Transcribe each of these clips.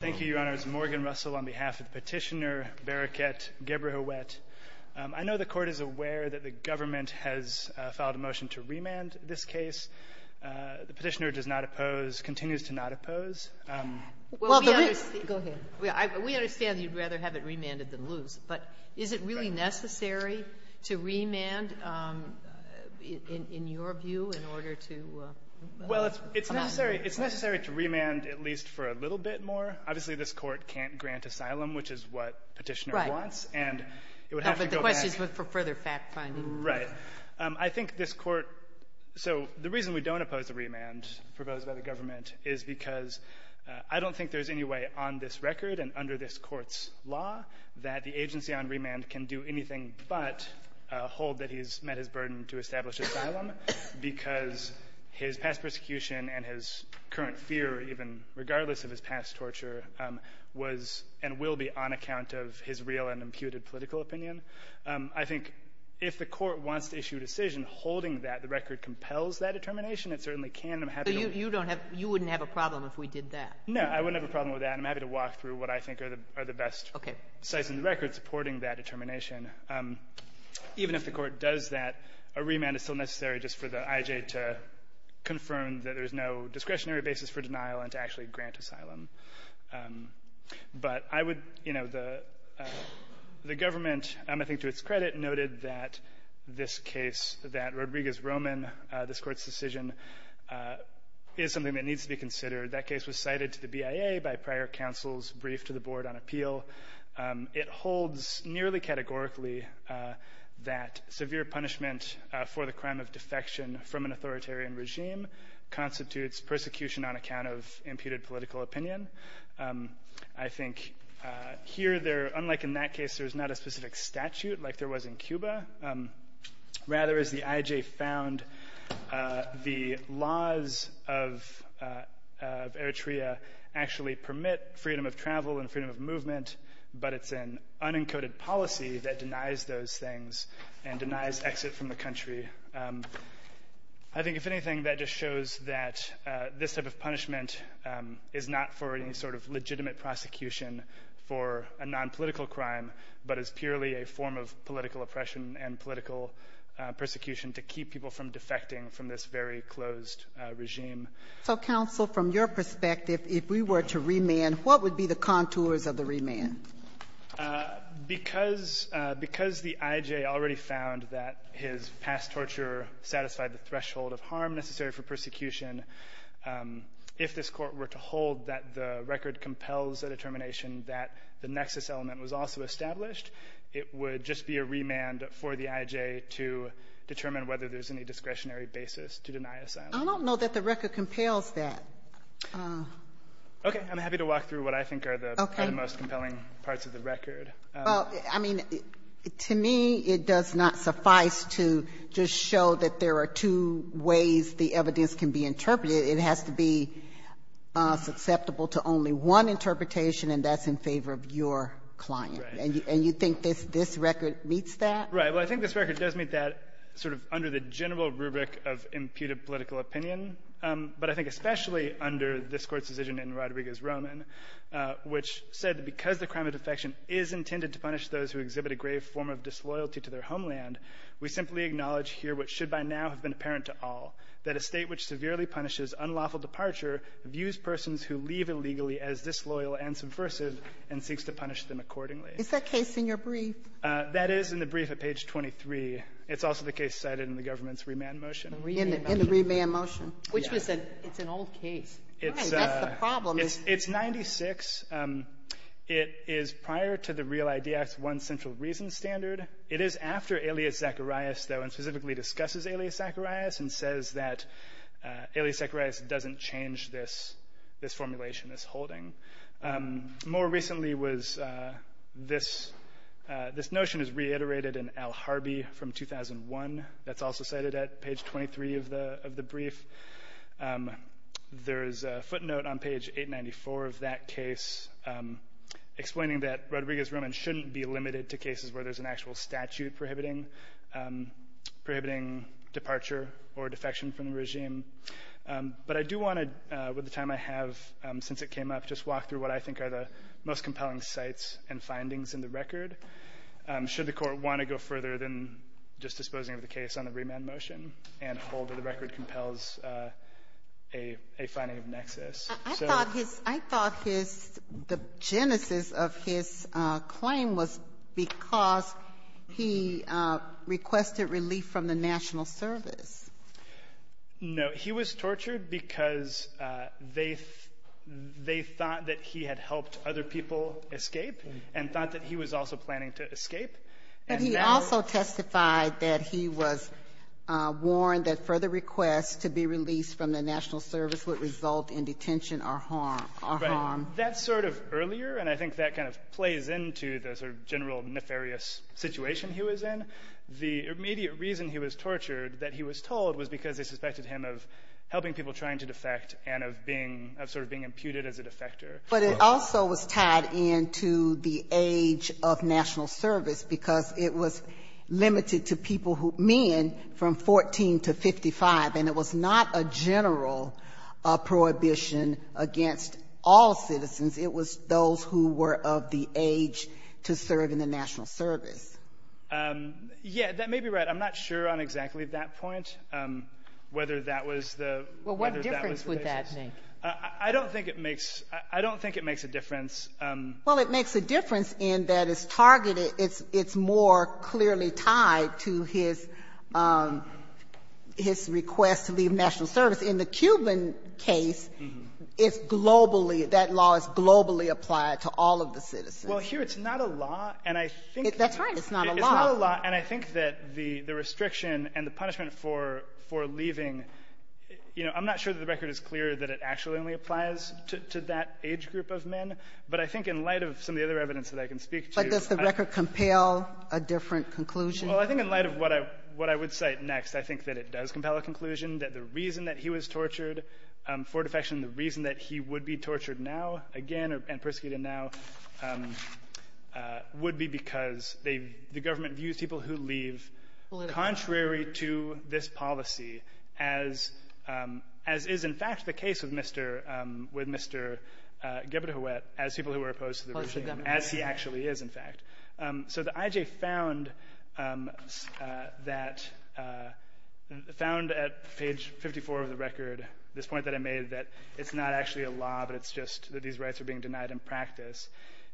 Thank you, Your Honors. Morgan Russell on behalf of Petitioner, Bereket, Ghebrehiwet. I know the Court is aware that the government has filed a motion to remand this case. The Petitioner does not oppose, continues to not oppose. Well, the reason we understand you'd rather have it remanded than lose. But is it really necessary to remand, in your view, in order to amount to a remand? Well, it's necessary to remand at least for a little bit more. Obviously, this Court can't grant asylum, which is what Petitioner wants. And it would have to go back to the Court. Right. But the question is for further fact-finding. Right. I think this Court — so the reason we don't oppose the remand proposed by the government is because I don't think there's any way on this record and under this Court's law that the agency on remand can do anything but hold that he's met his burden to establish asylum because his past persecution and his current fear, even regardless of his past torture, was and will be on account of his real and imputed political opinion. I think if the Court wants to issue a decision holding that the record compels that determination, it certainly can. And I'm happy to — So you don't have — you wouldn't have a problem if we did that. No. I wouldn't have a problem with that. And I'm happy to walk through what I think are the best — Okay. — sites in the record supporting that determination. Even if the Court does that, a remand is still necessary just for the IJ to confirm that there's no discretionary basis for denial and to actually grant asylum. But I would — you know, the government, I think to its credit, noted that this case, that Rodriguez-Roman, this Court's decision, is something that needs to be considered. That case was cited to the BIA by prior counsel's brief to the board on appeal. It holds nearly categorically that severe punishment for the crime of defection from an authoritarian regime constitutes persecution on account of imputed political opinion. I think here there — unlike in that case, there's not a specific statute like there was in Cuba. Rather, as the IJ found, the laws of Eritrea actually permit freedom of travel and freedom of movement, but it's an unencoded policy that denies those things and denies exit from the country. I think, if anything, that just shows that this type of punishment is not for any sort of legitimate prosecution for a nonpolitical crime, but is purely a form of political oppression and political persecution to keep people from defecting from this very closed regime. So, counsel, from your perspective, if we were to remand, what would be the contours of the remand? Because the IJ already found that his past torture satisfied the threshold of harm necessary for persecution, if this Court were to hold that the record compels a determination that the nexus element was also established, it would just be a remand for the IJ to determine whether there's any discretionary basis to deny asylum. I don't know that the record compels that. Okay. I'm happy to walk through what I think are the most compelling parts of the record. Well, I mean, to me, it does not suffice to just show that there are two ways the evidence can be interpreted. It has to be susceptible to only one interpretation, and that's in favor of your client. And you think this record meets that? Right. Well, I think this record does meet that sort of under the general rubric of imputed political opinion. But I think especially under this Court's decision in Rodriguez-Roman, which said that because the crime of defection is intended to punish those who exhibit a grave form of disloyalty to their homeland, we simply acknowledge here what should by now have been apparent to all, that a State which severely punishes unlawful departure views persons who leave illegally as disloyal and subversive and seeks to punish them accordingly. Is that case in your brief? That is in the brief at page 23. It's also the case cited in the government's remand motion. In the remand motion. Which was an old case. It's 96. It is prior to the Real ID Act's one central reason standard. It is after Elias Zacharias, though, and specifically discusses Elias Zacharias and says that Elias Zacharias doesn't change this formulation, this holding. More recently was this notion is reiterated in Al Harbi from 2001. That's also cited at page 23 of the brief. There is a footnote on page 894 of that case explaining that Rodriguez-Roman shouldn't be limited to cases where there's an actual statute prohibiting departure or defection from the regime. But I do want to, with the time I have since it came up, just walk through what I think are the most compelling sites and findings in the record. Should the Court want to go further than just disposing of the case on the remand motion and hold that the record compels a finding of nexus? I thought his the genesis of his claim was because he requested relief from the National Service. No. He was tortured because they thought that he had helped other people escape and thought that he was also planning to escape. But he also testified that he was warned that further requests to be released from the National Service would result in detention or harm. Right. That's sort of earlier, and I think that kind of plays into the sort of general nefarious situation he was in. The immediate reason he was tortured, that he was told, was because they suspected him of helping people trying to defect and of being, of sort of being imputed as a defector. But it also was tied into the age of National Service because it was limited to people who, men from 14 to 55, and it was not a general prohibition against all citizens. It was those who were of the age to serve in the National Service. Yeah. That may be right. I'm not sure on exactly that point whether that was the place. Well, what difference would that make? I don't think it makes a difference. Well, it makes a difference in that it's targeted. It's more clearly tied to his request to leave National Service. In the Cuban case, it's globally, that law is globally applied to all of the citizens. It's not a law. And I think that the restriction and the punishment for leaving, you know, I'm not sure that the record is clear that it actually only applies to that age group of men. But I think in light of some of the other evidence that I can speak to you — But does the record compel a different conclusion? Well, I think in light of what I would cite next, I think that it does compel a conclusion that the reason that he was tortured for defection, the reason that he would be tortured now again and persecuted now would be because they — the government views people who leave contrary to this policy, as is, in fact, the case with Mr. — with Mr. Gilbert Huet, as people who are opposed to the regime, as he actually is, in fact. So the IJ found that — found at page 54 of the record, this point that I made, that it's not actually a law, but it's just that these rights are being denied in practice.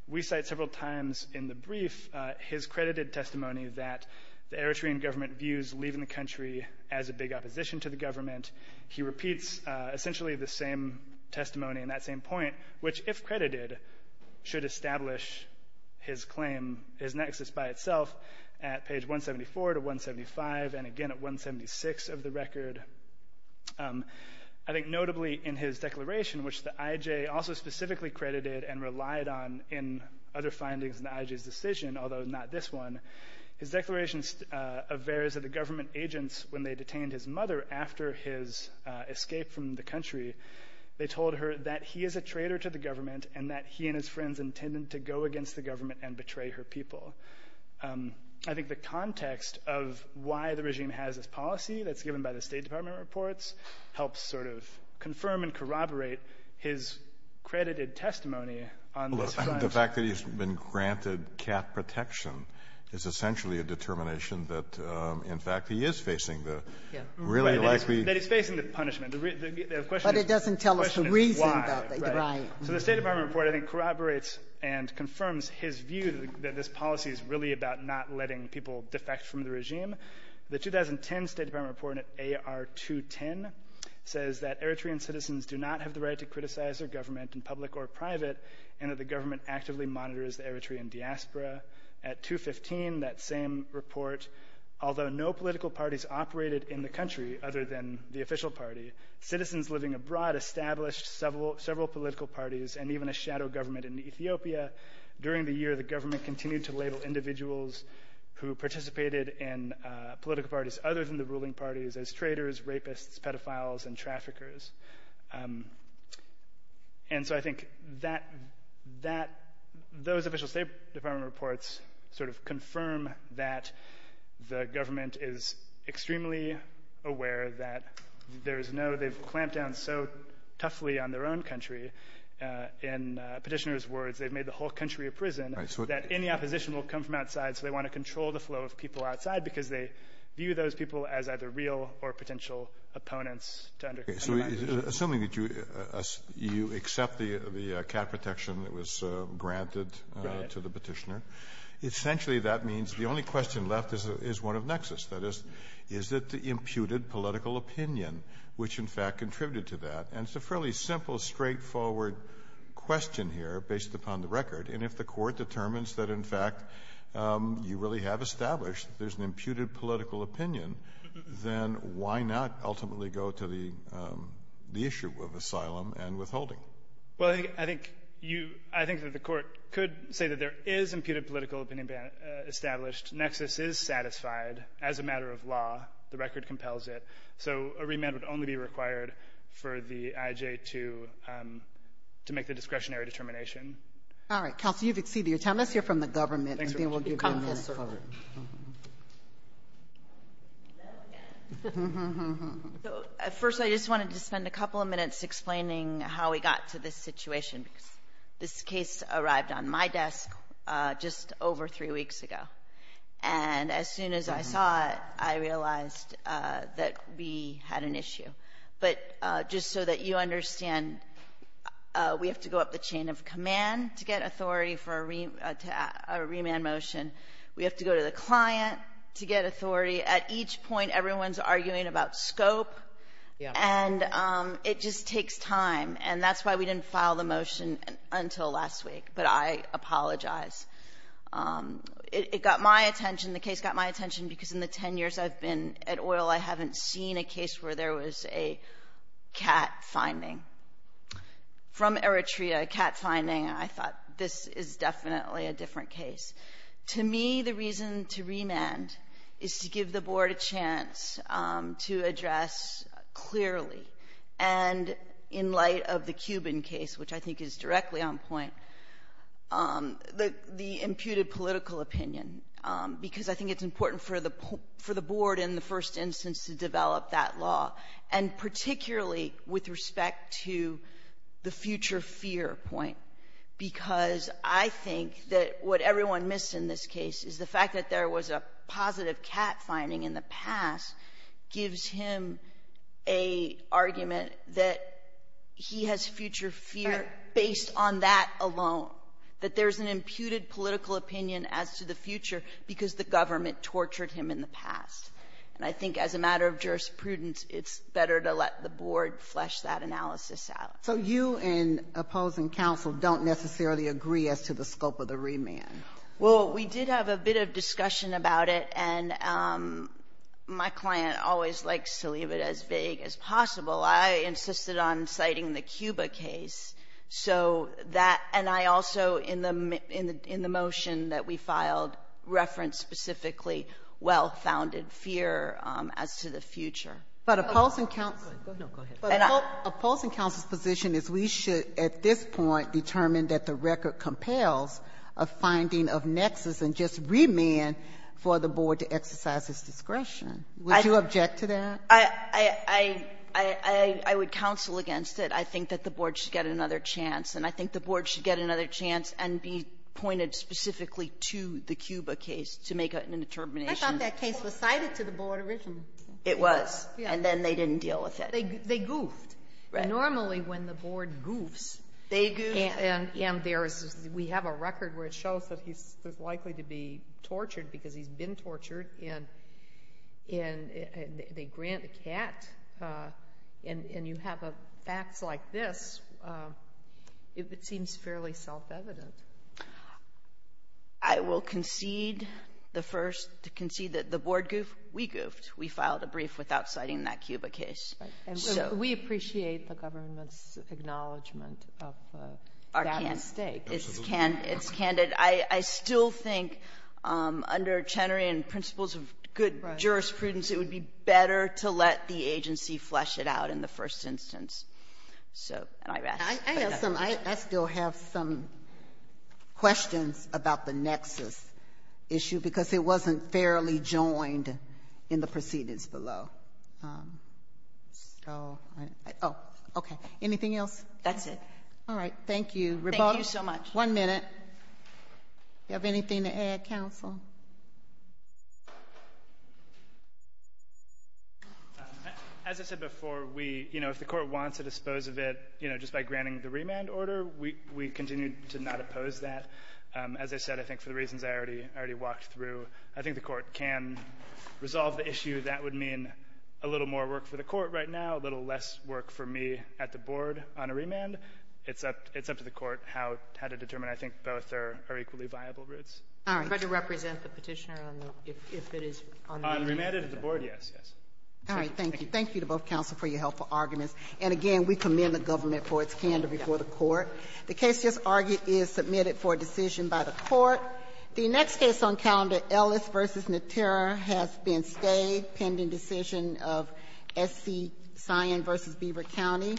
We cite several times in the brief his credited testimony that the Eritrean government views leaving the country as a big opposition to the government. He repeats essentially the same testimony in that same point, which, if credited, should establish his claim, his nexus by itself at page 174 to 175, and again at 176 of the record. I think notably in his declaration, which the IJ also specifically credited and relied on in other findings in the IJ's decision, although not this one, his declaration averts that the government agents, when they detained his mother after his escape from the country, they told her that he is a traitor to the government and that he and his friends intended to go against the government and betray her people. I think the context of why the regime has this policy that's given by the State Department reports helps sort of confirm and corroborate his credited testimony on this front. The fact that he's been granted cat protection is essentially a determination that, in fact, he is facing the really likely — That he's facing the punishment. The question is why. But it doesn't tell us the reason that they denied him. Right. So the State Department report, I think, corroborates and confirms his view that this policy is really about not letting people defect from the regime. The 2010 State Department report in AR-210 says that Eritrean citizens do not have the right to criticize their government in public or private and that the government actively monitors the Eritrean diaspora. At 215, that same report, although no political parties operated in the country other than the official party, citizens living abroad established several political parties and even a shadow government in Ethiopia. During the year, the government continued to label individuals who participated in political parties other than the ruling parties as traitors, rapists, pedophiles, and traffickers. And so I think that those official State Department reports sort of confirm that the government is extremely aware that there is no — they've clamped down so toughly on their own country, in Petitioner's words, they've made the whole country a prison, that any opposition will come from outside. So they want to control the flow of people outside because they view those people as either real or potential opponents to undercriminalization. So assuming that you accept the cap protection that was granted to the Petitioner, essentially that means the only question left is one of nexus, that is, is it the imputed political opinion which, in fact, contributed to that? And it's a fairly simple, straightforward question here based upon the record. And if the Court determines that, in fact, you really have established there's an imputed political opinion, then why not ultimately go to the issue of asylum and withholding? Well, I think — I think you — I think that the Court could say that there is imputed political opinion being established. Nexus is satisfied as a matter of law. The record compels it. So a remand would only be required for the IJ to — to make the discretionary determination. All right. Counsel, you've exceeded your time. Let's hear from the government, and then we'll give you a minute. So, first, I just wanted to spend a couple of minutes explaining how we got to this situation. This case arrived on my desk just over three weeks ago. And as soon as I saw it, I realized that we had an issue. But just so that you understand, we have to go up the chain of command to get authority for a remand motion. We have to go to the client to get authority. At each point, everyone's arguing about scope. And it just takes time. And that's why we didn't file the motion until last week. But I apologize. It got my attention. The case got my attention because in the 10 years I've been at oil, I haven't seen a case where there was a cat finding. From Eritrea, a cat finding, I thought, this is definitely a different case. To me, the reason to remand is to give the board a chance to address clearly, and in light of the Cuban case, which I think is directly on point, the imputed political opinion. Because I think it's important for the board, in the first instance, to develop that law. And particularly with respect to the future fear point. Because I think that what everyone missed in this case is the fact that there was a positive cat finding in the past gives him an argument that he has future fear based on that alone, that there's an imputed political opinion as to the future because the government tortured him in the past. And I think as a matter of jurisprudence, it's better to let the board flesh that analysis out. So you and opposing counsel don't necessarily agree as to the scope of the remand? Well, we did have a bit of discussion about it, and my client always likes to leave it as vague as possible. I insisted on citing the Cuba case. So that, and I also, in the motion that we filed, referenced specifically well-founded fear as to the future. But opposing counsel's position is we should, at this point, determine that the record compels a finding of nexus and just remand for the board to exercise its discretion. Would you object to that? I would counsel against it. I think that the board should get another chance. And I think the board should get another chance and be pointed specifically to the Cuba case to make a determination. I thought that case was cited to the board originally. It was. And then they didn't deal with it. They goofed. Normally, when the board goofs, and there's, we have a record where it shows that he's likely to be tortured because he's been tortured, and they grant a cat, and you have facts like this, it seems fairly self-evident. I will concede the first, to concede that the board goofed. We goofed. We filed a brief without citing that Cuba case. So we appreciate the government's acknowledgment of that mistake. It's candid. I still think under Chenery and principles of good jurisprudence, it would be better to let the agency flesh it out in the first instance. So, and I rest. I have some, I still have some questions about the nexus issue, because it wasn't fairly joined in the proceedings below. So, oh, okay. Anything else? That's it. All right. Thank you. Thank you so much. One minute. You have anything to add, counsel? As I said before, we, you know, if the court wants to dispose of it, you know, just by granting the remand order, we continue to not oppose that. As I said, I think for the reasons I already walked through, I think the court can resolve the issue. That would mean a little more work for the court right now, a little less work for me at the board on a remand. It's up to the court how to determine. I think both are equally viable routes. All right. Could you represent the Petitioner if it is on the remand? On remand at the board, yes, yes. All right. Thank you. Thank you to both counsel for your helpful arguments. And again, we commend the government for its candor before the court. The case just argued is submitted for decision by the court. The next case on calendar, Ellis v. Natera, has been stayed pending decision of S.C. Cyan v. Beaver County.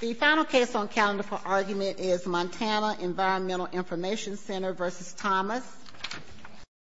The final case on calendar for argument is Montana Environmental Information Center v. Thomas.